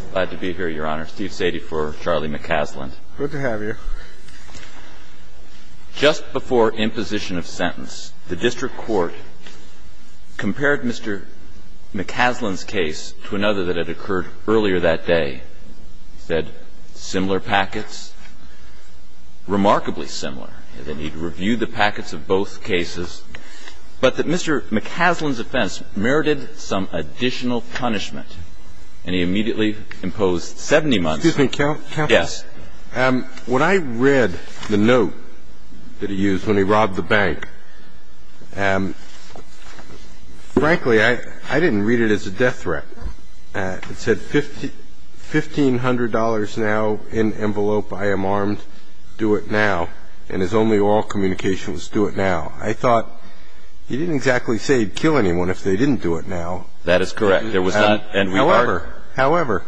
I'm glad to be here, Your Honor. Steve Sadie for Charlie McCasland. Good to have you. Just before imposition of sentence, the district court compared Mr. McCasland's case to another that had occurred earlier that day. He said, similar packets, remarkably similar, and then he'd review the packets of both cases, but that Mr. McCasland's offense merited some additional punishment, and he immediately imposed 70 months. Excuse me, counsel. Yes. When I read the note that he used when he robbed the bank, frankly, I didn't read it as a death threat. It said, $1,500 now in envelope. I am armed. Do it now. And his only oral communication was, do it now. I thought, he didn't exactly say kill anyone if they didn't do it now. That is correct. There was not, and we heard. However,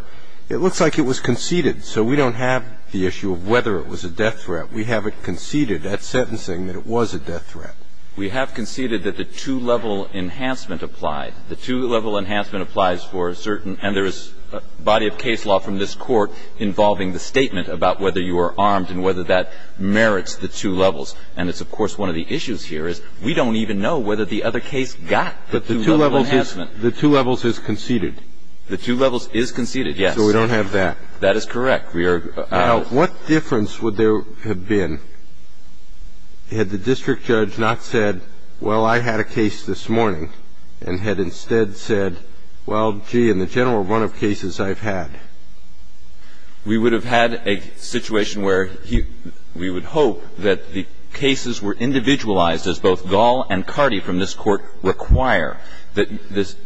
it looks like it was conceded. So we don't have the issue of whether it was a death threat. We have it conceded at sentencing that it was a death threat. We have conceded that the two-level enhancement applied. The two-level enhancement applies for a certain, and there is a body of case law from this Court involving the statement about whether you are armed and whether that merits the two levels. And it's, of course, one of the issues here is we don't even know whether the other case got the two-level enhancement. But the two levels is conceded. The two levels is conceded, yes. So we don't have that. That is correct. We are. Now, what difference would there have been had the district judge not said, well, I had a case this morning, and had instead said, well, gee, in the general run of cases I've had. We would have had a situation where we would hope that the cases were individualized as both Gall and Carty from this Court require. That this,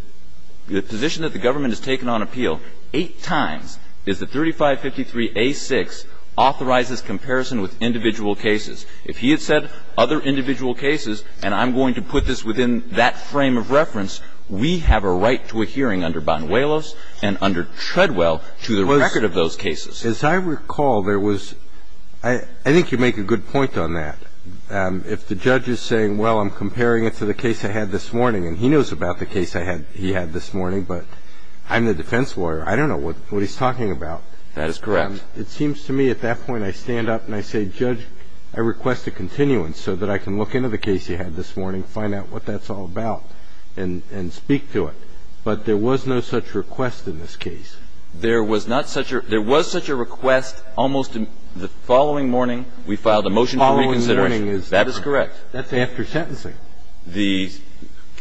the position that the government has taken on appeal eight times is that 3553A6 authorizes comparison with individual cases. If he had said other individual cases, and I'm going to put this within that frame of reference, we have a right to a hearing under Banuelos and under Treadwell to the record of those cases. Because, as I recall, there was, I think you make a good point on that. If the judge is saying, well, I'm comparing it to the case I had this morning, and he knows about the case I had he had this morning, but I'm the defense lawyer. I don't know what he's talking about. That is correct. It seems to me at that point I stand up and I say, Judge, I request a continuance so that I can look into the case you had this morning, find out what that's all about, and speak to it. But there was no such request in this case. There was not such a – there was such a request almost the following morning we filed a motion for reconsideration. That is correct. That's after sentencing. That is correct.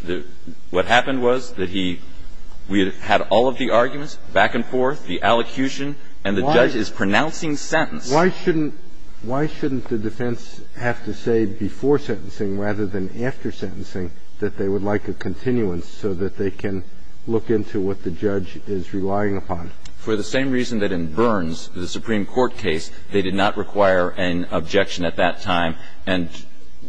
The – what happened was that he – we had all of the arguments back and forth, the allocution, and the judge is pronouncing sentence. Why shouldn't – why shouldn't the defense have to say before sentencing rather than after sentencing that they would like a continuance so that they can look into what the judge is relying upon? For the same reason that in Burns, the Supreme Court case, they did not require an objection at that time and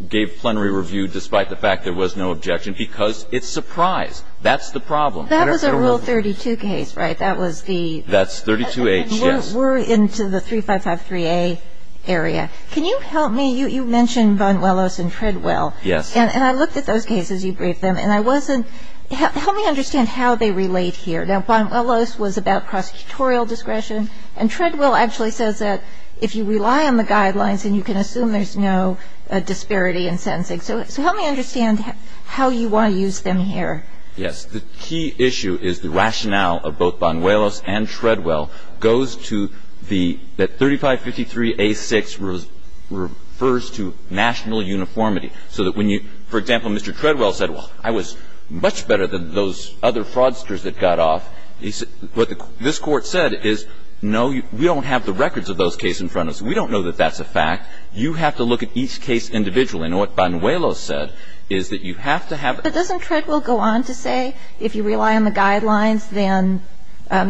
gave plenary review despite the fact there was no objection because it's surprise. That's the problem. That was a Rule 32 case, right? That was the – That's 32H, yes. We're into the 3553A area. Can you help me – you mentioned Von Willis and Treadwell. Yes. And I looked at those cases. You briefed them. And I wasn't – help me understand how they relate here. Now, Von Willis was about prosecutorial discretion. And Treadwell actually says that if you rely on the guidelines and you can assume there's no disparity in sentencing. So help me understand how you want to use them here. Yes. The key issue is the rationale of both Von Willis and Treadwell goes to the – that 3553A6 refers to national uniformity. So that when you – for example, Mr. Treadwell said, well, I was much better than those other fraudsters that got off. He said – what this Court said is, no, we don't have the records of those cases in front of us. We don't know that that's a fact. You have to look at each case individually. And what Von Willis said is that you have to have – But doesn't Treadwell go on to say if you rely on the guidelines, then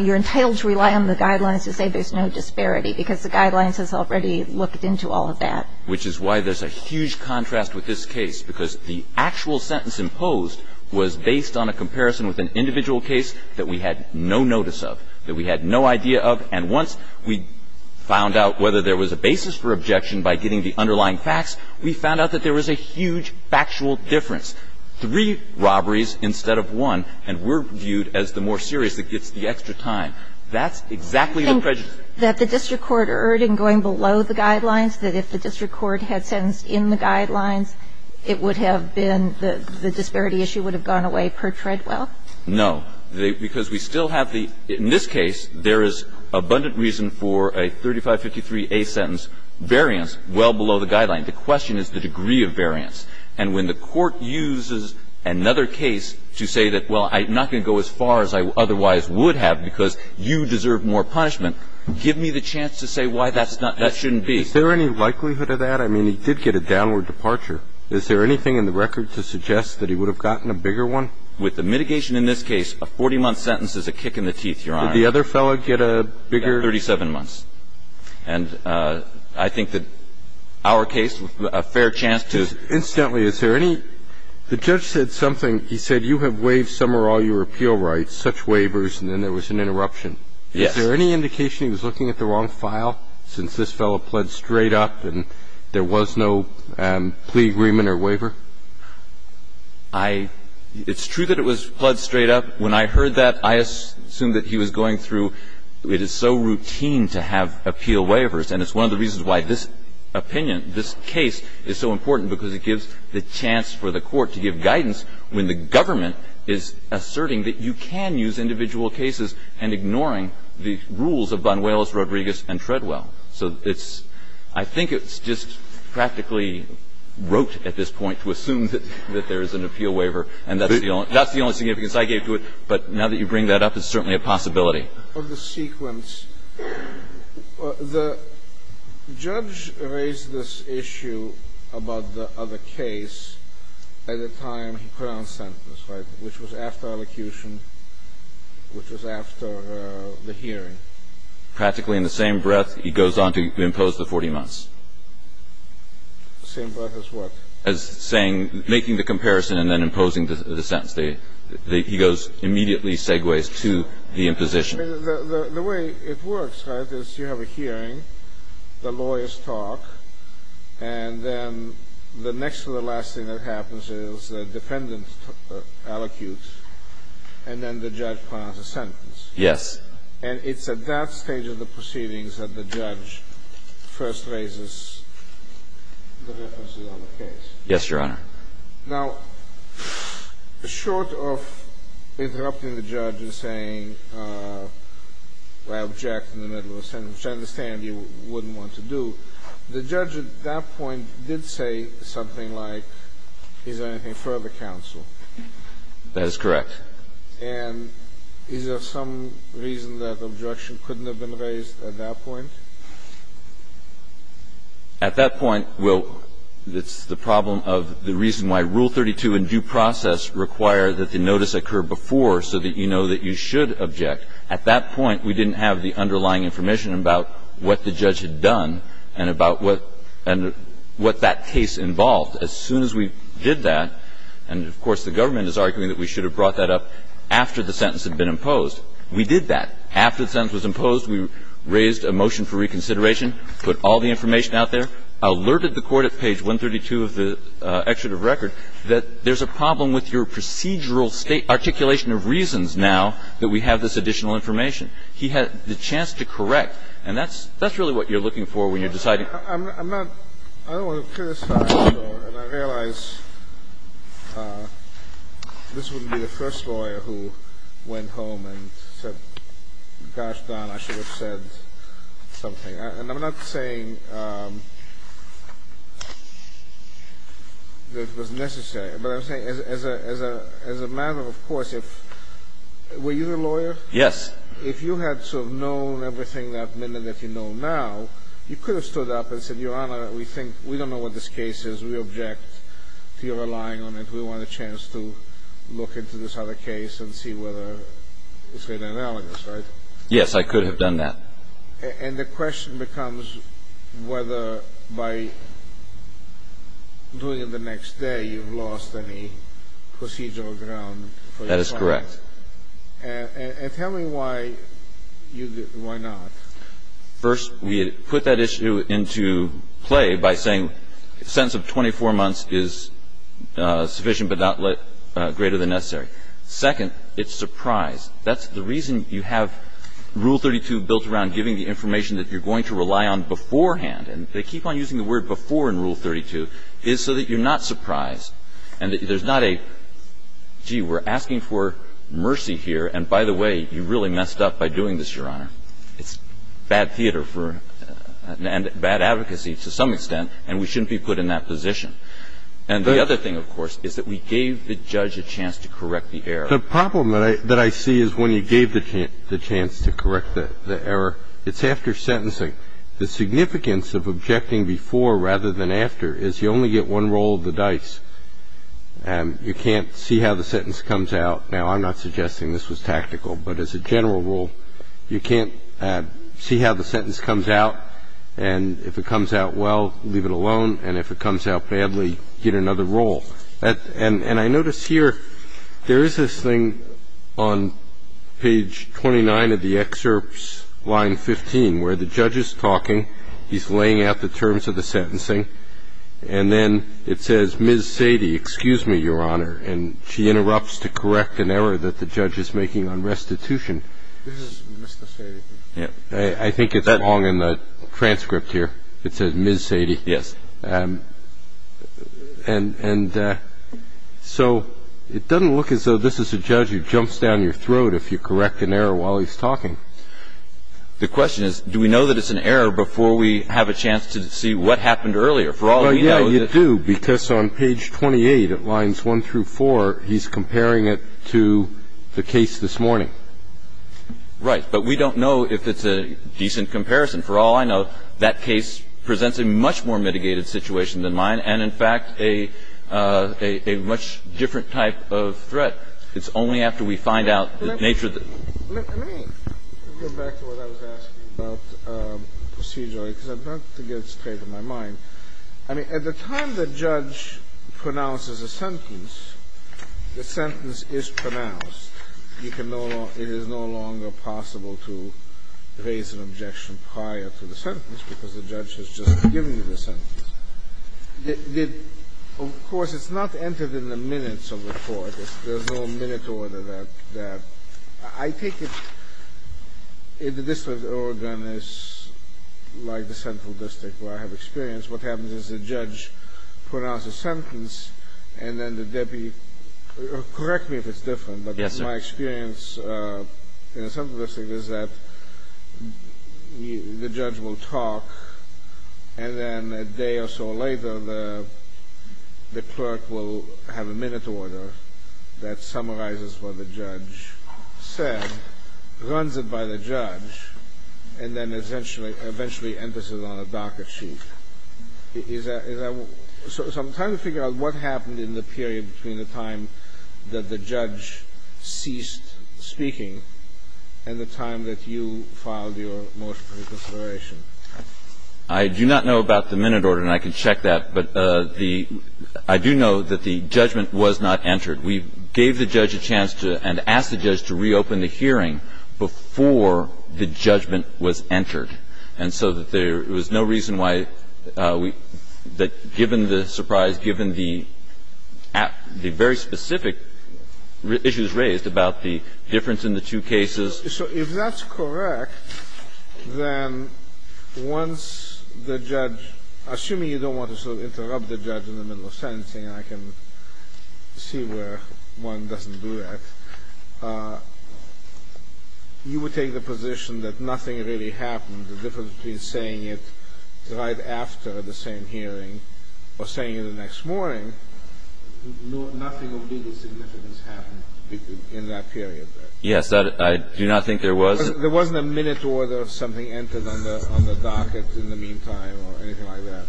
you're entitled to rely on the guidelines to say there's no disparity because the guidelines has already looked into all of that? Which is why there's a huge contrast with this case because the actual sentence imposed was based on a comparison with an individual case that we had no notice of, that we had no idea of. And once we found out whether there was a basis for objection by getting the underlying facts, we found out that there was a huge factual difference. Three robberies instead of one, and we're viewed as the more serious that gets the extra time. That's exactly the prejudice. I think that the district court urged in going below the guidelines that if the district court had sentenced in the guidelines, it would have been – the disparity issue would have gone away per Treadwell? No. Because we still have the – in this case, there is abundant reason for a 3553A sentence, variance well below the guideline. The question is the degree of variance. And when the court uses another case to say that, well, I'm not going to go as far as I otherwise would have because you deserve more punishment, give me the chance to say why that's not – that shouldn't be. Is there any likelihood of that? I mean, he did get a downward departure. Is there anything in the record to suggest that he would have gotten a bigger one? With the mitigation in this case, a 40-month sentence is a kick in the teeth, Your Honor. Did the other fellow get a bigger – 37 months. And I think that our case, a fair chance to – Incidentally, is there any – the judge said something. He said you have waived some or all your appeal rights, such waivers, and then there was an interruption. Yes. Is there any indication he was looking at the wrong file since this fellow pled straight up and there was no plea agreement or waiver? I – it's true that it was pled straight up. When I heard that, I assumed that he was going through – it is so routine to have appeal waivers, and it's one of the reasons why this opinion, this case is so important because it gives the chance for the court to give guidance when the government is asserting that you can use individual cases and ignoring the rules of Banuelos, Rodriguez, and Treadwell. So it's – I think it's just practically rote at this point to assume that there is an appeal waiver, and that's the only significance I gave to it. But now that you bring that up, it's certainly a possibility. For the sequence, the judge raised this issue about the other case at a time he put which was after elocution, which was after the hearing. Practically in the same breath, he goes on to impose the 40 months. The same breath as what? As saying – making the comparison and then imposing the sentence. He goes immediately segues to the imposition. The way it works, right, is you have a hearing, the lawyers talk, and then the next to the last thing that happens is the defendant allocutes, and then the judge plans a sentence. Yes. And it's at that stage of the proceedings that the judge first raises the references on the case. Yes, Your Honor. Now, short of interrupting the judge and saying, well, I object in the middle of a sentence, which I understand you wouldn't want to do, the judge at that point did say something like, is there anything further counsel? That is correct. And is there some reason that objection couldn't have been raised at that point? At that point, we'll – it's the problem of the reason why Rule 32 in due process requires that the notice occur before so that you know that you should object. At that point, we didn't have the underlying information about what the judge had done and about what – and what that case involved. As soon as we did that – and, of course, the government is arguing that we should have brought that up after the sentence had been imposed – we did that. After the sentence was imposed, we raised a motion for reconsideration, put all the information out there, alerted the Court at page 132 of the excerpt of the record that there's a problem with your procedural state – articulation of reasons now that we have this additional information. He had the chance to correct. And that's really what you're looking for when you're deciding. I'm not – I don't want to criticize the lawyer, and I realize this wouldn't be the first lawyer who went home and said, gosh, Don, I should have said something. And I'm not saying that it was necessary, but I'm saying as a matter of course, if – were you the lawyer? Yes. If you had sort of known everything that minute that you know now, you could have stood up and said, Your Honor, we think – we don't know what this case is. We object to your relying on it. We want a chance to look into this other case and see whether it's made analogous, right? Yes, I could have done that. And the question becomes whether by doing it the next day, you've lost any procedural ground for your client. That is correct. And tell me why you did – why not? First, we put that issue into play by saying a sentence of 24 months is sufficient but not greater than necessary. Second, it's surprised. That's the reason you have Rule 32 built around giving the information that you're going to rely on beforehand. And they keep on using the word before in Rule 32, is so that you're not surprised and that there's not a, gee, we're asking for mercy here, and by the way, you really messed up by doing this, Your Honor. It's bad theater for – and bad advocacy to some extent, and we shouldn't be put in that position. And the other thing, of course, is that we gave the judge a chance to correct the error. The problem that I see is when you gave the chance to correct the error, it's after sentencing. The significance of objecting before rather than after is you only get one roll of the dice. You can't see how the sentence comes out. Now, I'm not suggesting this was tactical, but as a general rule, you can't see how the sentence comes out, and if it comes out well, leave it alone, and if it comes out badly, get another roll. And I notice here, there is this thing on page 29 of the excerpts, line 15, where the judge is talking, he's laying out the terms of the sentencing, and then it says, Ms. Sady, excuse me, Your Honor, and she interrupts to correct an error that the judge is making on restitution. This is Mr. Sady. I think it's wrong in the transcript here. It says Ms. Sady. Yes. And so it doesn't look as though this is a judge who jumps down your throat if you correct an error while he's talking. The question is, do we know that it's an error before we have a chance to see what happened For all we know, it's – Well, yeah, you do, because on page 28 of lines 1 through 4, he's comparing it to the case this morning. Right. But we don't know if it's a decent comparison. For all I know, that case presents a much more mitigated situation than mine and, in fact, a much different type of threat. It's only after we find out the nature of the – Let me go back to what I was asking about procedurally, because I'd like to get it straight in my mind. I mean, at the time the judge pronounces a sentence, the sentence is pronounced. It is no longer possible to raise an objection prior to the sentence because the judge has just given you the sentence. Of course, it's not entered in the minutes of the court. There's no minute order there. I take it the district of Oregon is like the central district where I have experience. What happens is the judge pronounces a sentence, and then the deputy – correct me if it's different. Yes, sir. But my experience in a sense of this thing is that the judge will talk, and then a day or so later the clerk will have a minute order that summarizes what the judge said, runs it by the judge, and then eventually enters it on a docket sheet. Is that – so I'm trying to figure out what happened in the period between the time that the judge ceased speaking and the time that you filed your motion for reconsideration. I do not know about the minute order, and I can check that, but the – I do know that the judgment was not entered. We gave the judge a chance to – and asked the judge to reopen the hearing before the judgment was entered. And so that there was no reason why we – that given the surprise, given the very specific issues raised about the difference in the two cases. So if that's correct, then once the judge – assuming you don't want to sort of interrupt the judge in the middle of sentencing, I can see where one doesn't do that. You would take the position that nothing really happened, the difference between saying it right after the same hearing or saying it the next morning, nothing of legal significance happened in that period, right? Yes, that – I do not think there was. There wasn't a minute order of something entered on the docket in the meantime or anything like that?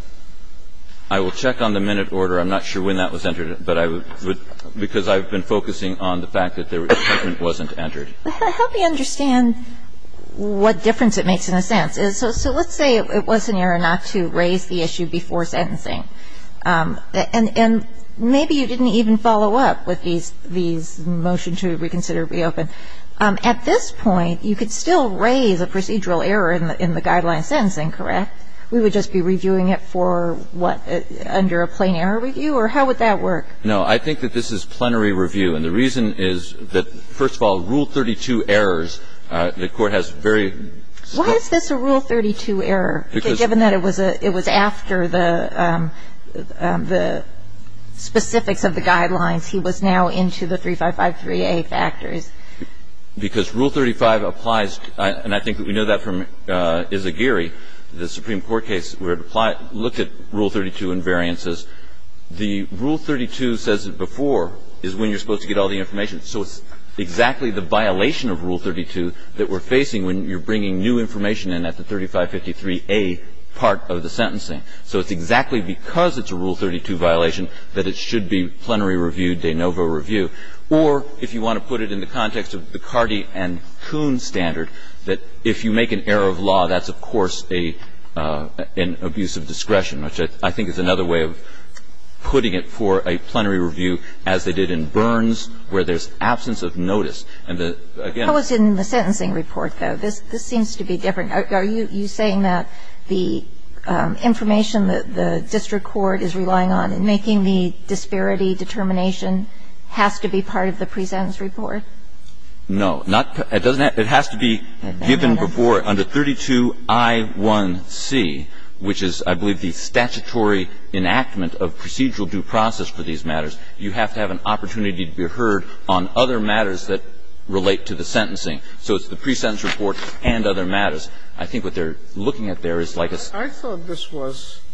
I will check on the minute order. I'm not sure when that was entered, but I would – because I've been focusing on the fact that the judgment wasn't entered. Help me understand what difference it makes in a sentence. So let's say it was an error not to raise the issue before sentencing. And maybe you didn't even follow up with these – these motion to reconsider, reopen. At this point, you could still raise a procedural error in the guideline sentencing, correct? We would just be reviewing it for what – under a plain error review? Or how would that work? No. I think that this is plenary review. And the reason is that, first of all, Rule 32 errors, the Court has very – Why is this a Rule 32 error, given that it was after the specifics of the guidelines? He was now into the 3553A factors. Because Rule 35 applies – and I think we know that from Izagiri, the Supreme Court case, where it applied – looked at Rule 32 invariances. The Rule 32 says that before is when you're supposed to get all the information. So it's exactly the violation of Rule 32 that we're facing when you're bringing new information in at the 3553A part of the sentencing. So it's exactly because it's a Rule 32 violation that it should be plenary review, de novo review. Or, if you want to put it in the context of the Cardi and Kuhn standard, that if you make an error of law, that's, of course, an abuse of discretion, which I think is another way of putting it for a plenary review, as they did in Burns, where there's absence of notice. And the – again – How is it in the sentencing report, though? This seems to be different. Are you saying that the information that the district court is relying on in making the disparity determination has to be part of the pre-sentence report? No. It doesn't – it has to be given before under 32I1C, which is, I believe, the statutory enactment of procedural due process for these matters. You have to have an opportunity to be heard on other matters that relate to the sentencing. So it's the pre-sentence report and other matters. I think what they're looking at there is like a – I thought this was –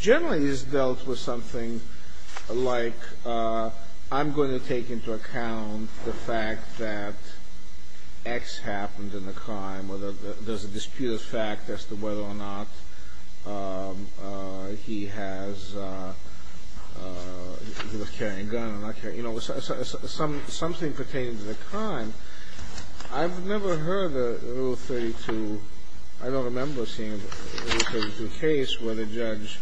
generally is dealt with something like, I'm going to take into account the fact that X happened in the crime, or there's a disputed fact as to whether or not he has – he was carrying a gun or not carrying – you know, something pertaining to the crime. I've never heard of Rule 32 – I don't remember seeing Rule 32 case where the judge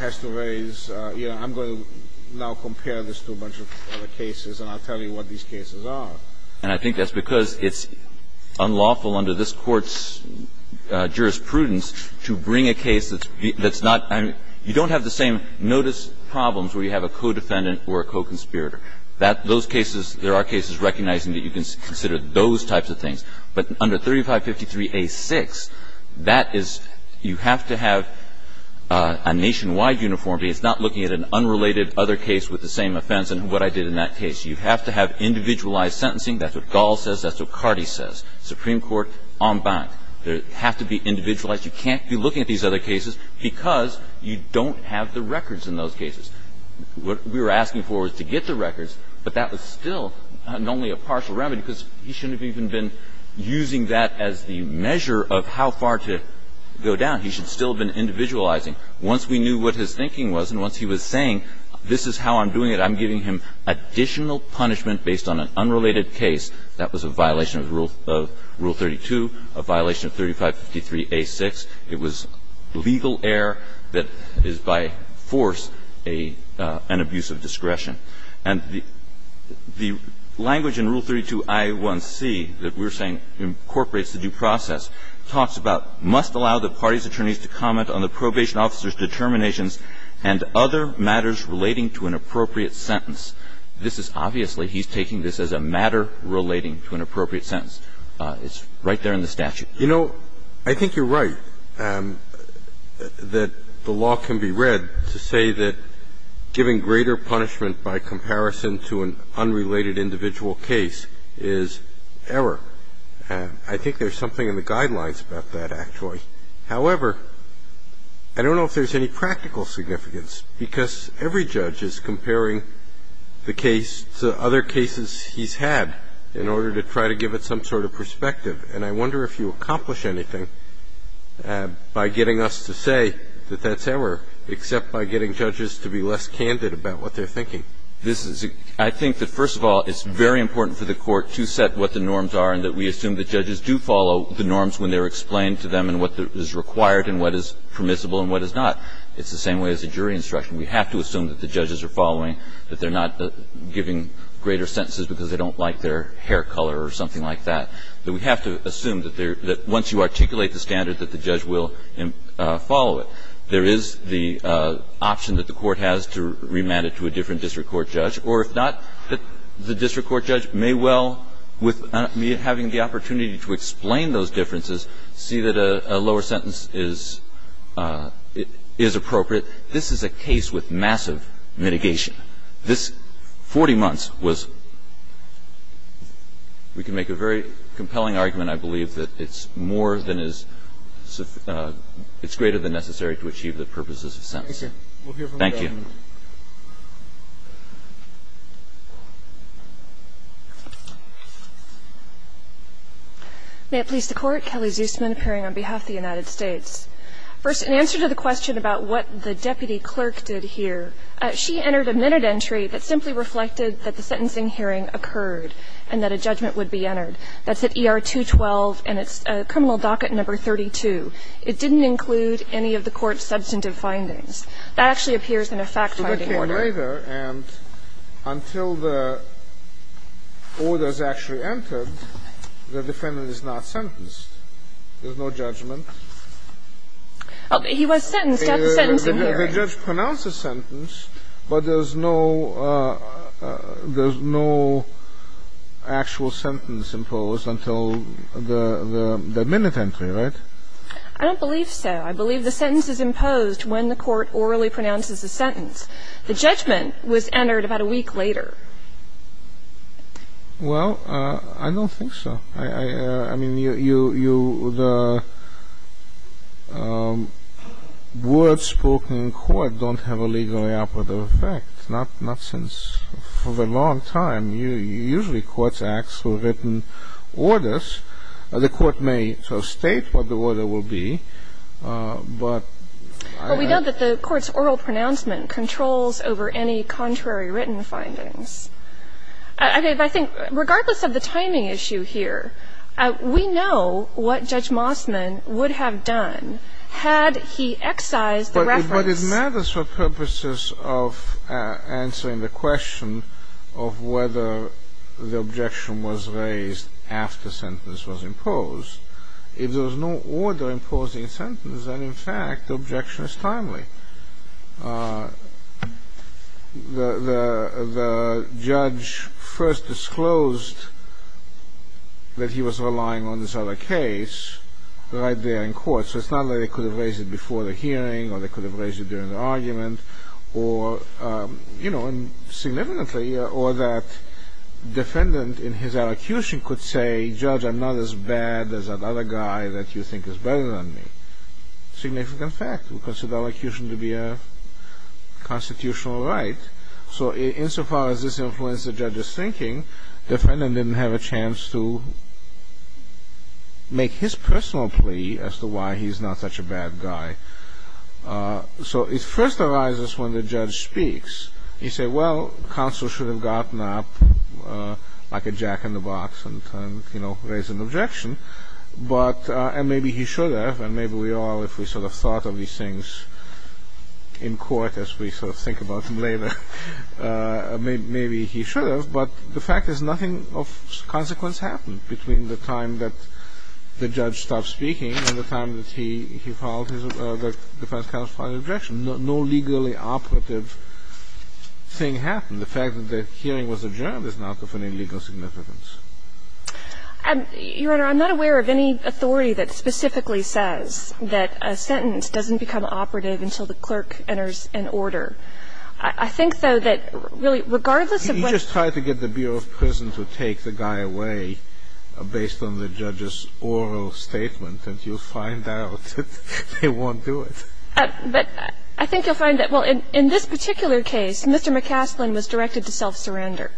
has to raise, you know, I'm going to now compare this to a bunch of other cases and I'll tell you what these cases are. And I think that's because it's unlawful under this Court's jurisprudence to bring a case that's not – I mean, you don't have the same notice problems where you have a co-defendant or a co-conspirator. That – those cases, there are cases recognizing that you can consider those types of things. But under 3553A6, that is – you have to have a nationwide uniformity. It's not looking at an unrelated other case with the same offense and what I did in that case. You have to have individualized sentencing. That's what Gall says. That's what Carty says. Supreme Court en banc. There has to be individualized. You can't be looking at these other cases because you don't have the records in those cases. What we were asking for was to get the records, but that was still only a partial remedy because he shouldn't have even been using that as the measure of how far to go down. He should still have been individualizing. Once we knew what his thinking was and once he was saying, this is how I'm doing it, I'm giving him additional punishment based on an unrelated case, that was a violation of Rule – of Rule 32, a violation of 3553A6. It was legal error that is by force a – an abuse of discretion. And the – the language in Rule 32i1c that we're saying incorporates the due process talks about must allow the party's attorneys to comment on the probation officer's determinations and other matters relating to an appropriate sentence. This is obviously, he's taking this as a matter relating to an appropriate sentence. It's right there in the statute. You know, I think you're right that the law can be read to say that giving greater punishment by comparison to an unrelated individual case is error. I think there's something in the guidelines about that, actually. However, I don't know if there's any practical significance because every judge is comparing the case to other cases he's had in order to try to give it some sort of perspective. And I wonder if you accomplish anything by getting us to say that that's error, except by getting judges to be less candid about what they're thinking. This is a – I think that, first of all, it's very important for the Court to set what the norms are and that we assume the judges do follow the norms when they're explained to them and what is required and what is permissible and what is not. It's the same way as a jury instruction. We have to assume that the judges are following, that they're not giving greater sentences because they don't like their hair color or something like that. But we have to assume that they're – that once you articulate the standard, that the judge will follow it. There is the option that the Court has to remand it to a different district court judge, or if not, the district court judge may well, with me having the opportunity to explain those differences, see that a lower sentence is appropriate. This is a case with massive mitigation. This 40 months was – we can make a very compelling argument, I believe, that it's more than is – it's greater than necessary to achieve the purposes of sentencing. Thank you. May it please the Court. Kelly Zusman, appearing on behalf of the United States. First, in answer to the question about what the deputy clerk did here, she entered a minute entry that simply reflected that the sentencing hearing occurred and that a judgment would be entered. That's at ER-212, and it's criminal docket number 32. It didn't include any of the Court's substantive findings. That actually appears in a fact-finding order. So they came later, and until the order is actually entered, the defendant is not sentenced. There's no judgment. He was sentenced at the sentencing hearing. The judge pronounced the sentence, but there's no – there's no actual sentence imposed until the minute entry, right? I don't believe so. I believe the sentence is imposed when the Court orally pronounces the sentence. The judgment was entered about a week later. Well, I don't think so. I mean, you – the words spoken in court don't have a legally operative effect, not since – for a long time. Usually, courts ask for written orders. The Court may so state what the order will be, but I don't – Well, we know that the Court's oral pronouncement controls over any contrary written findings. I think regardless of the timing issue here, we know what Judge Mossman would have done had he excised the reference. But it matters for purposes of answering the question of whether the objection was raised after sentence was imposed. If there was no order imposing a sentence, then, in fact, the objection is timely. The judge first disclosed that he was relying on this other case right there in court, so it's not like they could have raised it before the hearing, or they could have raised it during the argument, or – you know, and significantly, or that defendant in his elocution could say, Judge, I'm not as bad as that other guy that you think is better than me. Significant fact. We consider elocution to be a constitutional right. So insofar as this influences the judge's thinking, the defendant didn't have a So it first arises when the judge speaks. You say, well, counsel should have gotten up like a jack-in-the-box and, you know, raised an objection. But – and maybe he should have, and maybe we all, if we sort of thought of these things in court as we sort of think about them later, maybe he should have, but the fact is nothing of consequence happened between the time that the judge stopped speaking and the time that he filed his – the defense counsel filed an objection. No legally operative thing happened. The fact that the hearing was adjourned is not of any legal significance. Your Honor, I'm not aware of any authority that specifically says that a sentence doesn't become operative until the clerk enters an order. I think, though, that really, regardless of what – You just try to get the Bureau of Prison to take the guy away based on the judge's oral statement, and you'll find out that they won't do it. But I think you'll find that – well, in this particular case, Mr. McCaslin was directed to self-surrender,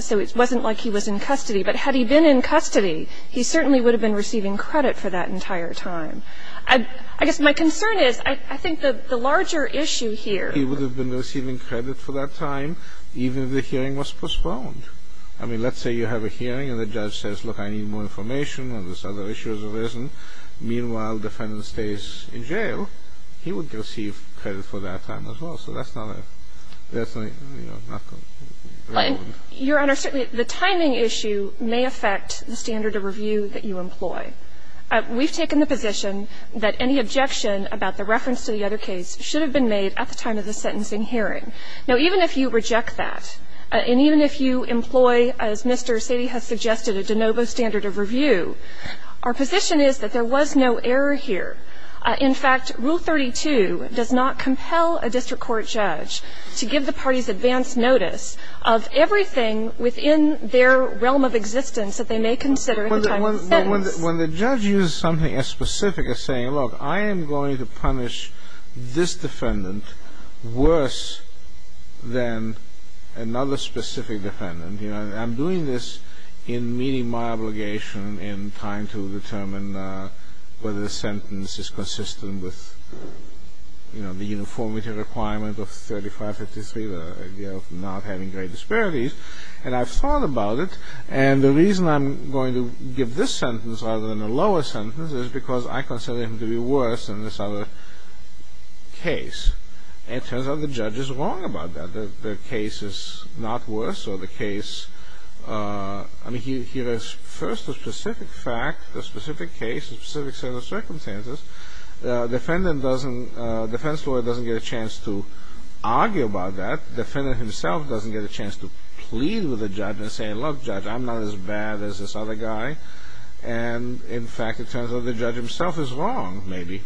so it wasn't like he was in custody. But had he been in custody, he certainly would have been receiving credit for that entire time. I guess my concern is, I think the larger issue here – I mean, let's say you have a hearing and the judge says, look, I need more information on this other issue as a reason. Meanwhile, the defendant stays in jail, he would receive credit for that time as well. So that's not a – that's not a – you know, not a relevant – Your Honor, certainly the timing issue may affect the standard of review that you employ. We've taken the position that any objection about the reference to the other case should have been made at the time of the sentencing hearing. Now, even if you reject that, and even if you employ, as Mr. Sady has suggested, a de novo standard of review, our position is that there was no error here. In fact, Rule 32 does not compel a district court judge to give the parties advance notice of everything within their realm of existence that they may consider at the time of the sentence. When the judge uses something as specific as saying, look, I am going to punish this defendant worse than another specific defendant. You know, I'm doing this in meeting my obligation in trying to determine whether the sentence is consistent with, you know, the uniformity requirement of 3553, the idea of not having great disparities. And I've thought about it, and the reason I'm going to give this sentence rather than a lower sentence is because I consider him to be worse than this particular case. And it turns out the judge is wrong about that. The case is not worse, or the case, I mean, here is first a specific fact, a specific case, a specific set of circumstances. Defendant doesn't, defense lawyer doesn't get a chance to argue about that. Defendant himself doesn't get a chance to plead with the judge and say, look, judge, I'm not as bad as this other guy. And, in fact, it turns out the judge himself is wrong, maybe.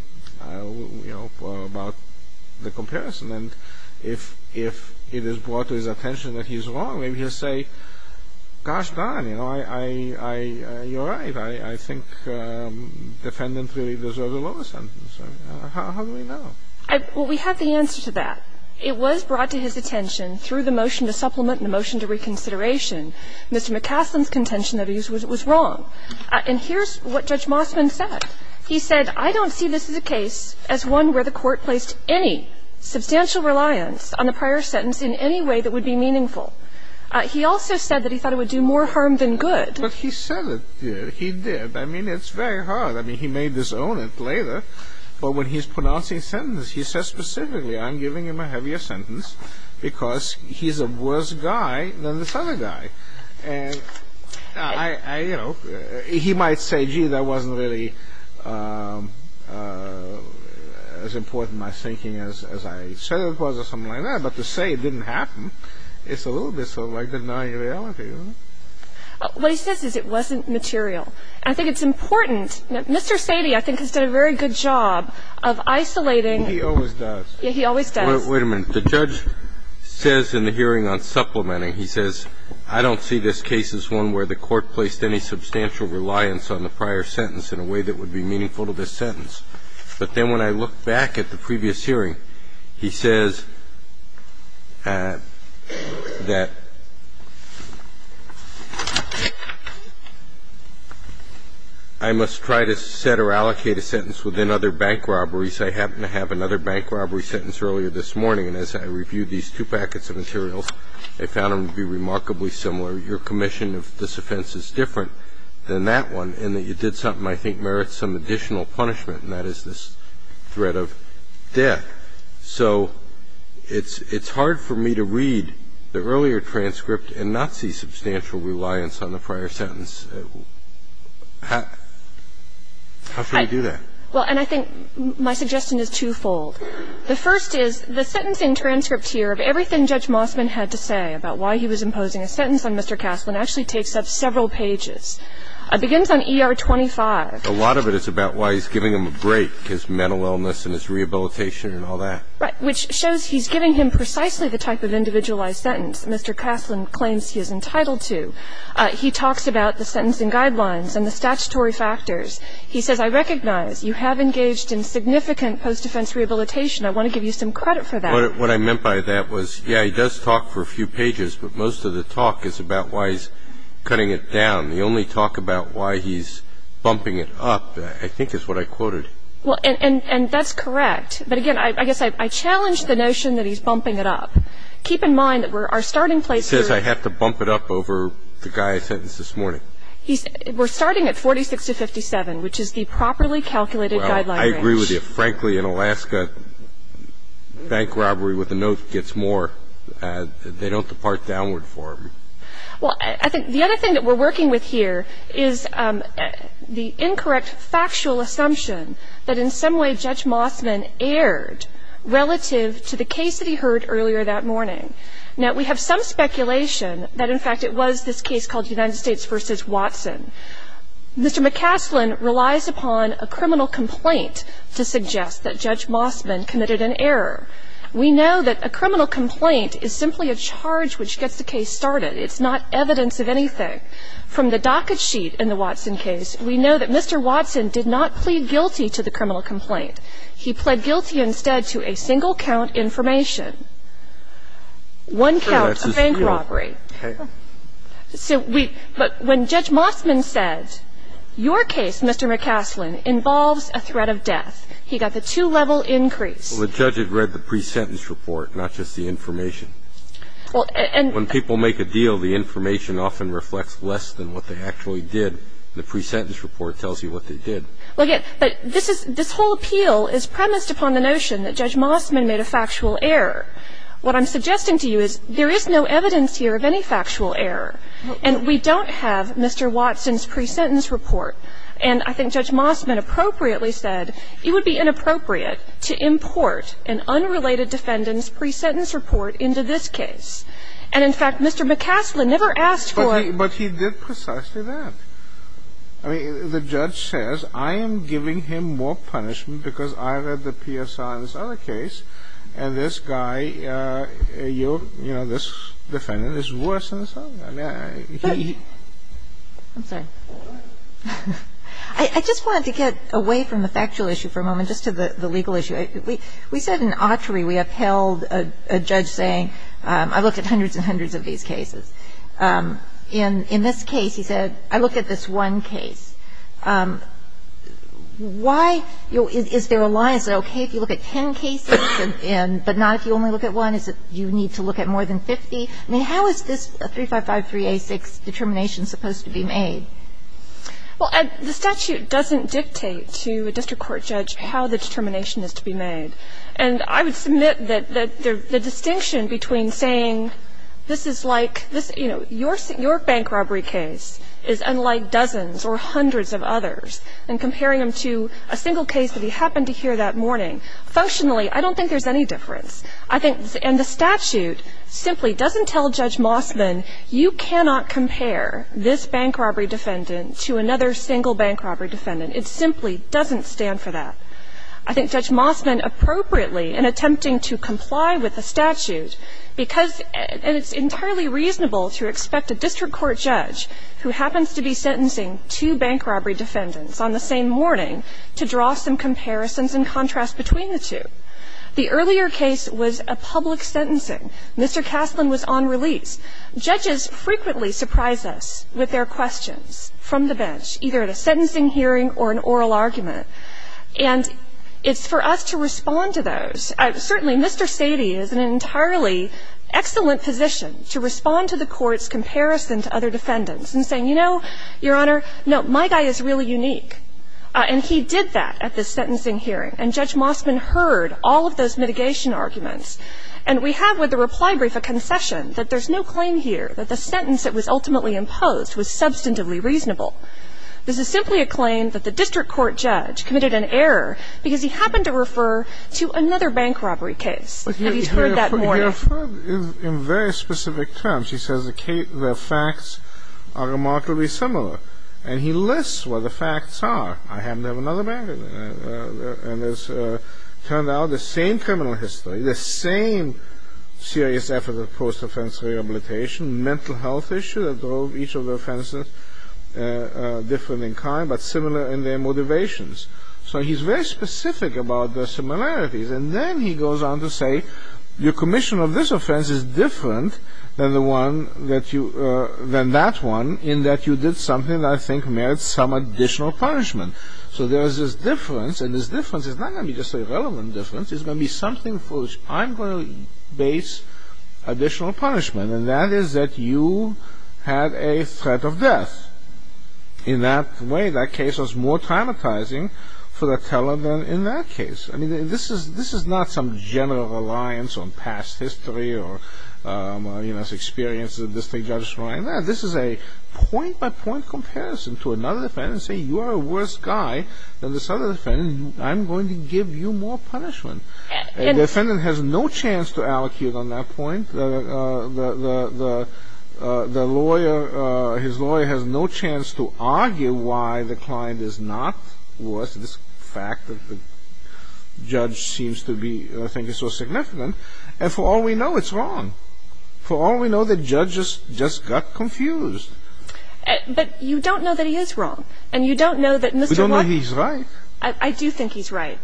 You know, about the comparison. And if it is brought to his attention that he's wrong, maybe he'll say, gosh darn, you know, I, I, you're right. I think defendant really deserves a lower sentence. How do we know? Well, we have the answer to that. It was brought to his attention through the motion to supplement and the motion to reconsideration, Mr. McCasland's contention that it was wrong. And here's what Judge Mossman said. He said, I don't see this as a case as one where the court placed any substantial reliance on the prior sentence in any way that would be meaningful. He also said that he thought it would do more harm than good. But he said it did. He did. I mean, it's very hard. I mean, he may disown it later, but when he's pronouncing sentence, he says specifically, I'm giving him a heavier sentence because he's a worse guy than this other guy. And I, I, you know, he might say, gee, that wasn't really as important in my thinking as, as I said it was or something like that. But to say it didn't happen, it's a little bit sort of like denying reality. What he says is it wasn't material. I think it's important. Mr. Sadie, I think, has done a very good job of isolating. He always does. Yeah, he always does. Wait a minute. The judge says in the hearing on supplementing, he says, I don't see this case as one where the court placed any substantial reliance on the prior sentence in a way that would be meaningful to this sentence. But then when I look back at the previous hearing, he says that I must try to set or allocate a sentence within other bank robberies. I happen to have another bank robbery sentence earlier this morning. And as I reviewed these two packets of materials, I found them to be remarkably similar. Your commission of this offense is different than that one in that you did something I think merits some additional punishment, and that is this threat of death. So it's, it's hard for me to read the earlier transcript and not see substantial reliance on the prior sentence. How should I do that? Well, and I think my suggestion is twofold. The first is the sentencing transcript here of everything Judge Mossman had to say about why he was imposing a sentence on Mr. Caslen actually takes up several pages. Begins on ER 25. A lot of it is about why he's giving him a break, his mental illness and his rehabilitation and all that. Right. Which shows he's giving him precisely the type of individualized sentence Mr. Caslen claims he is entitled to. He talks about the sentencing guidelines and the statutory factors. He says, I recognize you have engaged in significant post-defense rehabilitation. I want to give you some credit for that. What I meant by that was, yeah, he does talk for a few pages, but most of the talk is about why he's cutting it down. The only talk about why he's bumping it up, I think, is what I quoted. Well, and that's correct. But again, I guess I challenge the notion that he's bumping it up. Keep in mind that we're, our starting place. He says I have to bump it up over the guy sentenced this morning. He's, we're starting at 46 to 57, which is the properly calculated guideline. I agree with you. Frankly, in Alaska, bank robbery with a note gets more. They don't depart downward for him. Well, I think the other thing that we're working with here is the incorrect factual assumption that in some way Judge Mossman erred relative to the case that he heard earlier that morning. Now, we have some speculation that, in fact, it was this case called United States v. Watson. Mr. McCaslin relies upon a criminal complaint to suggest that Judge Mossman committed an error. We know that a criminal complaint is simply a charge which gets the case started. It's not evidence of anything. From the docket sheet in the Watson case, we know that Mr. Watson did not plead guilty to the criminal complaint. He pled guilty instead to a single count information. One count of bank robbery. So we – but when Judge Mossman said, your case, Mr. McCaslin, involves a threat of death, he got the two-level increase. Well, the judge had read the pre-sentence report, not just the information. Well, and – When people make a deal, the information often reflects less than what they actually did. The pre-sentence report tells you what they did. Well, yes, but this is – this whole appeal is premised upon the notion that Judge Mossman made a factual error. What I'm suggesting to you is there is no evidence here of any factual error. And we don't have Mr. Watson's pre-sentence report. And I think Judge Mossman appropriately said it would be inappropriate to import an unrelated defendant's pre-sentence report into this case. And, in fact, Mr. McCaslin never asked for – But he did precisely that. I mean, the judge says, I am giving him more punishment because I read the PSR in this case than I did in the other case, and this guy, you know, this defendant, is worse than this other guy. I mean, he – I'm sorry. I just wanted to get away from the factual issue for a moment, just to the legal issue. We said in Autry we upheld a judge saying, I looked at hundreds and hundreds of these cases. In this case, he said, I looked at this one case. Why – is there a line, is it okay if you look at ten cases, but not if you only look at one, is it you need to look at more than 50? I mean, how is this 3553A6 determination supposed to be made? Well, the statute doesn't dictate to a district court judge how the determination is to be made. And I would submit that the distinction between saying this is like this – you know, to a case that he heard on Saturday morning, or hundreds of others, and comparing them to a single case that he happened to hear that morning. Functionally, I don't think there's any difference. I think – and the statute simply doesn't tell Judge Mossman, you cannot compare this bank robbery defendant to another single bank robbery defendant. It simply doesn't stand for that. I think Judge Mossman, appropriately, in attempting to comply with the statute because – and it's entirely reasonable to expect a district court judge who happens to be sentencing two bank robbery defendants on the same morning to draw some comparisons and contrasts between the two. The earlier case was a public sentencing. Mr. Kastlin was on release. Judges frequently surprise us with their questions from the bench, either at a sentencing hearing or an oral argument. And it's for us to respond to those. Certainly, Mr. Sady is an entirely excellent physician to respond to the court's comparison to other defendants and saying, you know, Your Honor, no, my guy is really unique. And he did that at the sentencing hearing. And Judge Mossman heard all of those mitigation arguments. And we have with the reply brief a concession that there's no claim here that the sentence that was ultimately imposed was substantively reasonable. This is simply a claim that the district court judge committed an error because he happened to refer to another bank robbery case that he'd heard that morning. He referred in very specific terms. He says the facts are remarkably similar. And he lists what the facts are. I happen to have another bank. And it's turned out the same criminal history, the same serious effort of post-offense rehabilitation, mental health issue that drove each of the offenses different in kind, but similar in their motivations. So he's very specific about the similarities. And then he goes on to say, your commission of this offense is different than that one in that you did something that I think merits some additional punishment. So there's this difference. And this difference is not going to be just a relevant difference. It's going to be something for which I'm going to base additional punishment. And that is that you had a threat of death. In that way, that case was more traumatizing for the teller than in that case. I mean, this is not some general reliance on past history or experience of the district judge. This is a point-by-point comparison to another defendant saying, you are a worse guy than this other defendant. I'm going to give you more punishment. And the defendant has no chance to allocate on that point. The lawyer, his lawyer has no chance to argue why the client is not worth this fact that the judge seems to be thinking so significant. And for all we know, it's wrong. For all we know, the judge just got confused. But you don't know that he is wrong. And you don't know that Mr. Walker We don't know he's right. I do think he's right.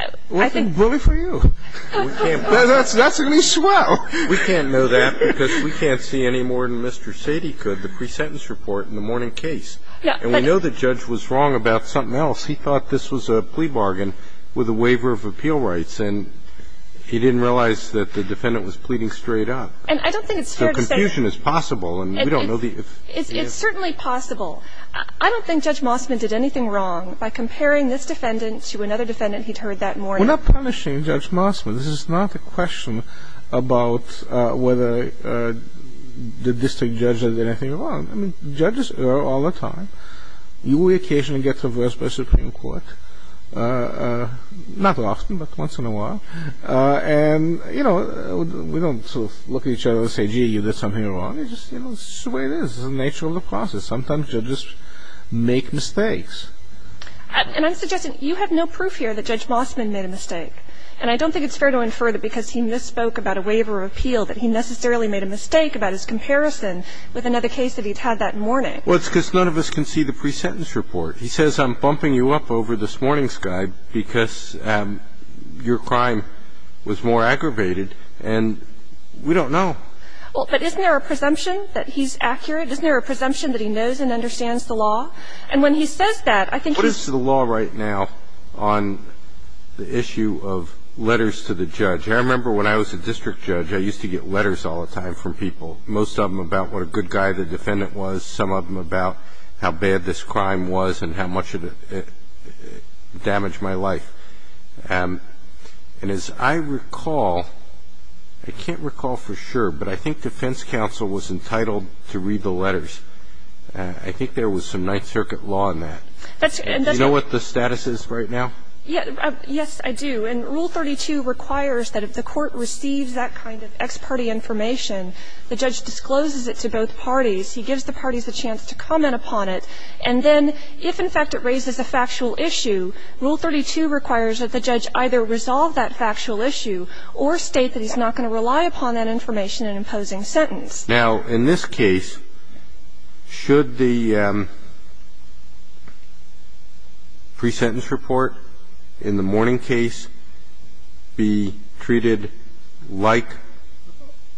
I think Well, then, bully for you. That's going to be swell. We can't know that because we can't see any more than Mr. Sady could, the pre-sentence report in the morning case. And we know the judge was wrong about something else. He thought this was a plea bargain with a waiver of appeal rights. And he didn't realize that the defendant was pleading straight up. And I don't think it's fair to say So confusion is possible. And we don't know the It's certainly possible. I don't think Judge Mossman did anything wrong by comparing this defendant to another defendant he'd heard that morning. We're not punishing Judge Mossman. This is not a question about whether the district judge did anything wrong. I mean, judges err all the time. You will occasionally get traversed by the Supreme Court. Not often, but once in a while. And, you know, we don't sort of look at each other and say, gee, you did something wrong. It's just the way it is. It's the nature of the process. Sometimes judges make mistakes. And I'm suggesting you have no proof here that Judge Mossman made a mistake. And I don't think it's fair to infer that because he misspoke about a waiver of appeal that he necessarily made a mistake about his comparison with another case that he'd had that morning. Well, it's because none of us can see the pre-sentence report. He says, I'm bumping you up over this morning's guide because your crime was more aggravated and we don't know. Well, but isn't there a presumption that he's accurate? Isn't there a presumption that he knows and understands the law? And when he says that, I think he's – What is the law right now on the issue of letters to the judge? I remember when I was a district judge, I used to get letters all the time from people, most of them about what a good guy the defendant was, some of them about how bad this crime was and how much it damaged my life. And as I recall, I can't recall for sure, but I think defense counsel was entitled to read the letters. I think there was some Ninth Circuit law in that. Do you know what the status is right now? Yes, I do. And Rule 32 requires that if the court receives that kind of ex parte information, the judge discloses it to both parties. He gives the parties a chance to comment upon it, and then if, in fact, it raises a factual issue, Rule 32 requires that the judge either resolve that factual issue or state that he's not going to rely upon that information in imposing sentence. Now, in this case, should the pre-sentence report in the Mourning case be treated like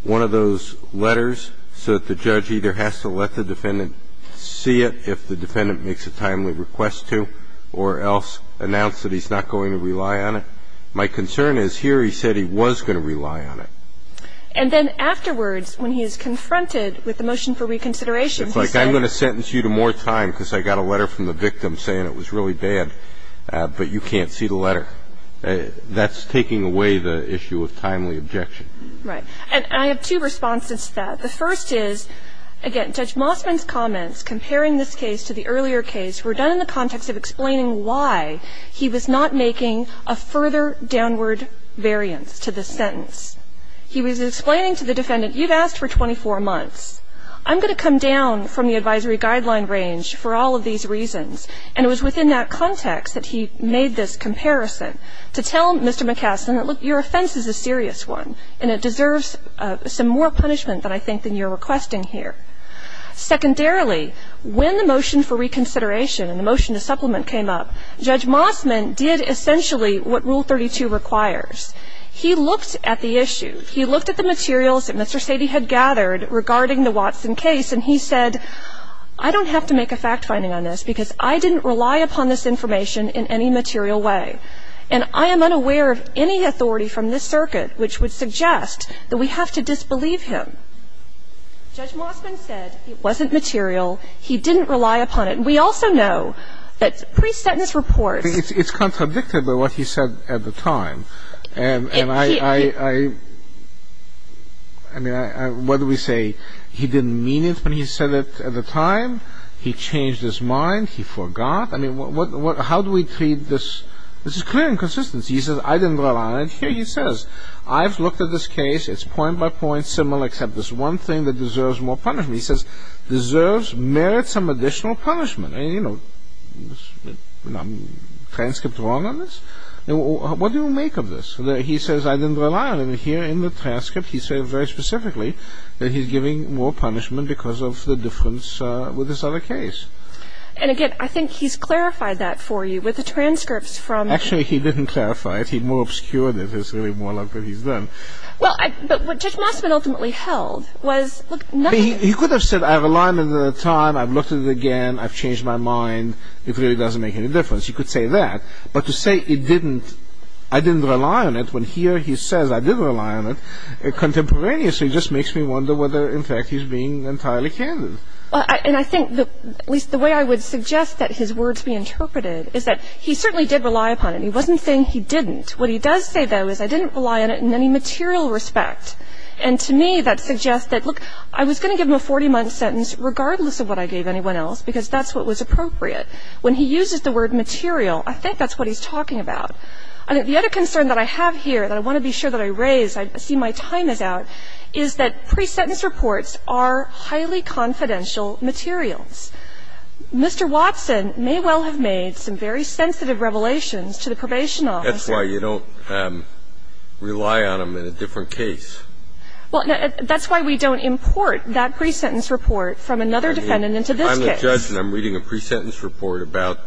one of those letters so that the judge either has to let the defendant see it if the defendant makes a timely request to or else announce that he's not going to rely on it? My concern is here he said he was going to rely on it. And then afterwards, when he is confronted with the motion for reconsideration, he said It's like I'm going to sentence you to more time because I got a letter from the victim saying it was really bad, but you can't see the letter. That's taking away the issue of timely objection. Right. And I have two responses to that. The first is, again, Judge Mossman's comments comparing this case to the earlier case were done in the context of explaining why he was not making a further downward variance to the sentence. He was explaining to the defendant, You've asked for 24 months. I'm going to come down from the advisory guideline range for all of these reasons. And it was within that context that he made this comparison to tell Mr. McCaskill that, Look, your offense is a serious one, and it deserves some more punishment than I think you're requesting here. Secondarily, when the motion for reconsideration and the motion to supplement came up, Judge Mossman did essentially what Rule 32 requires. He looked at the issue. He looked at the materials that Mr. Sady had gathered regarding the Watson case, and he said, I don't have to make a fact-finding on this because I didn't rely upon this information in any material way, and I am unaware of any authority from this circuit which would suggest that we have to disbelieve him. Judge Mossman said it wasn't material, he didn't rely upon it. We also know that pre-sentence reports It's contradicted by what he said at the time. And I mean, what do we say? He didn't mean it when he said it at the time. He changed his mind. He forgot. I mean, how do we treat this? This is clear inconsistency. He says, I didn't rely on it. Here he says, I've looked at this case. It's point by point similar except this one thing that deserves more punishment. He says, deserves merits some additional punishment. I mean, you know, transcript wrong on this? What do you make of this? He says, I didn't rely on it. Here in the transcript, he said very specifically that he's giving more punishment because of the difference with this other case. And again, I think he's clarified that for you with the transcripts from- Actually, he didn't clarify it. He more obscured it. It's really more like what he's done. Well, but what Judge Mossman ultimately held was- He could have said, I relied on it at the time. I've looked at it again. I've changed my mind. It really doesn't make any difference. You could say that. But to say I didn't rely on it when here he says I didn't rely on it contemporaneously just makes me wonder whether, in fact, he's being entirely candid. And I think, at least the way I would suggest that his words be interpreted is that he certainly did rely upon it. He wasn't saying he didn't. What he does say, though, is I didn't rely on it in any material respect. And to me, that suggests that, look, I was going to give him a 40-month sentence regardless of what I gave anyone else because that's what was appropriate. When he uses the word material, I think that's what he's talking about. The other concern that I have here that I want to be sure that I raise, I see my time is out, is that pre-sentence reports are highly confidential materials. Mr. Watson may well have made some very sensitive revelations to the probation officer. That's why you don't rely on them in a different case. Well, that's why we don't import that pre-sentence report from another defendant into this case. If I'm the judge and I'm reading a pre-sentence report about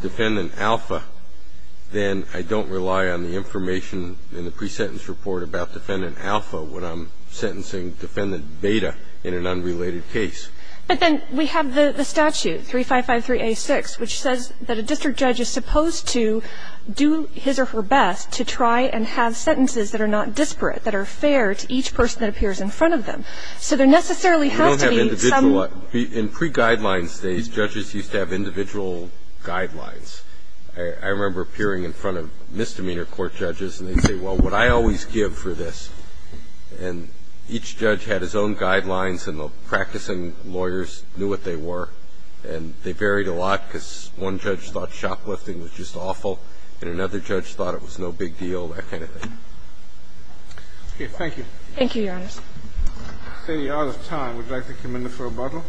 Defendant Alpha, then I don't rely on the information in the pre-sentence report about Defendant Alpha when I'm sentencing Defendant Beta in an unrelated case. But then we have the statute, 3553a6, which says that a district judge is supposed to do his or her best to try and have sentences that are not disparate, that are fair to each person that appears in front of them. So there necessarily has to be some of them. In pre-guidelines days, judges used to have individual guidelines. I remember appearing in front of misdemeanor court judges, and they'd say, well, what I always give for this. And each judge had his own guidelines, and the practicing lawyers knew what they were. And they varied a lot, because one judge thought shoplifting was just awful, and another judge thought it was no big deal, that kind of thing. Okay, thank you. Thank you, Your Honor. I see you're out of time. Would you like to come in for rebuttal?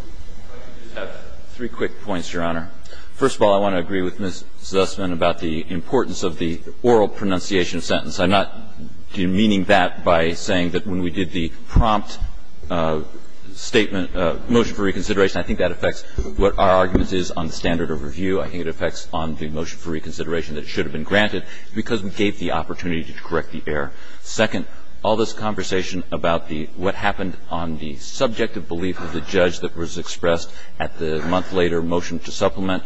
I have three quick points, Your Honor. First of all, I want to agree with Ms. Zussman about the importance of the oral pronunciation of sentence. I'm not demeaning that by saying that when we did the prompt statement, motion for reconsideration, I think that affects what our argument is on the standard of review. I think it affects on the motion for reconsideration that should have been granted because we gave the opportunity to correct the error. Second, all this conversation about the what happened on the subjective belief of the judge that was expressed at the month-later motion to supplement,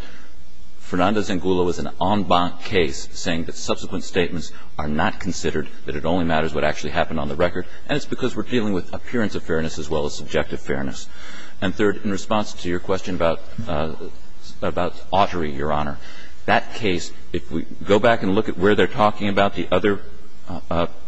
Fernandez and Gula was an en banc case, saying that subsequent statements are not considered, that it only matters what actually happened on the record, and it's because we're dealing with appearance of fairness as well as subjective fairness. And third, in response to your question about Autry, Your Honor, that case, if we go back and look at where they're talking about the other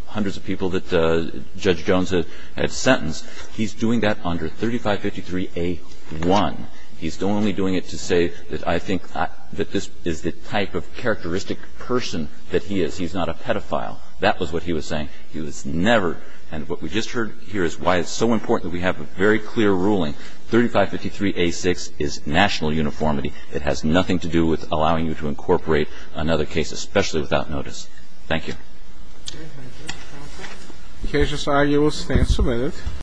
hundreds of people that Judge Jones had sentenced, he's doing that under 3553A1. He's only doing it to say that I think that this is the type of characteristic person that he is. He's not a pedophile. That was what he was saying. He was never. And what we just heard here is why it's so important that we have a very clear ruling. 3553A6 is national uniformity. It has nothing to do with allowing you to incorporate another case, especially without notice. Thank you.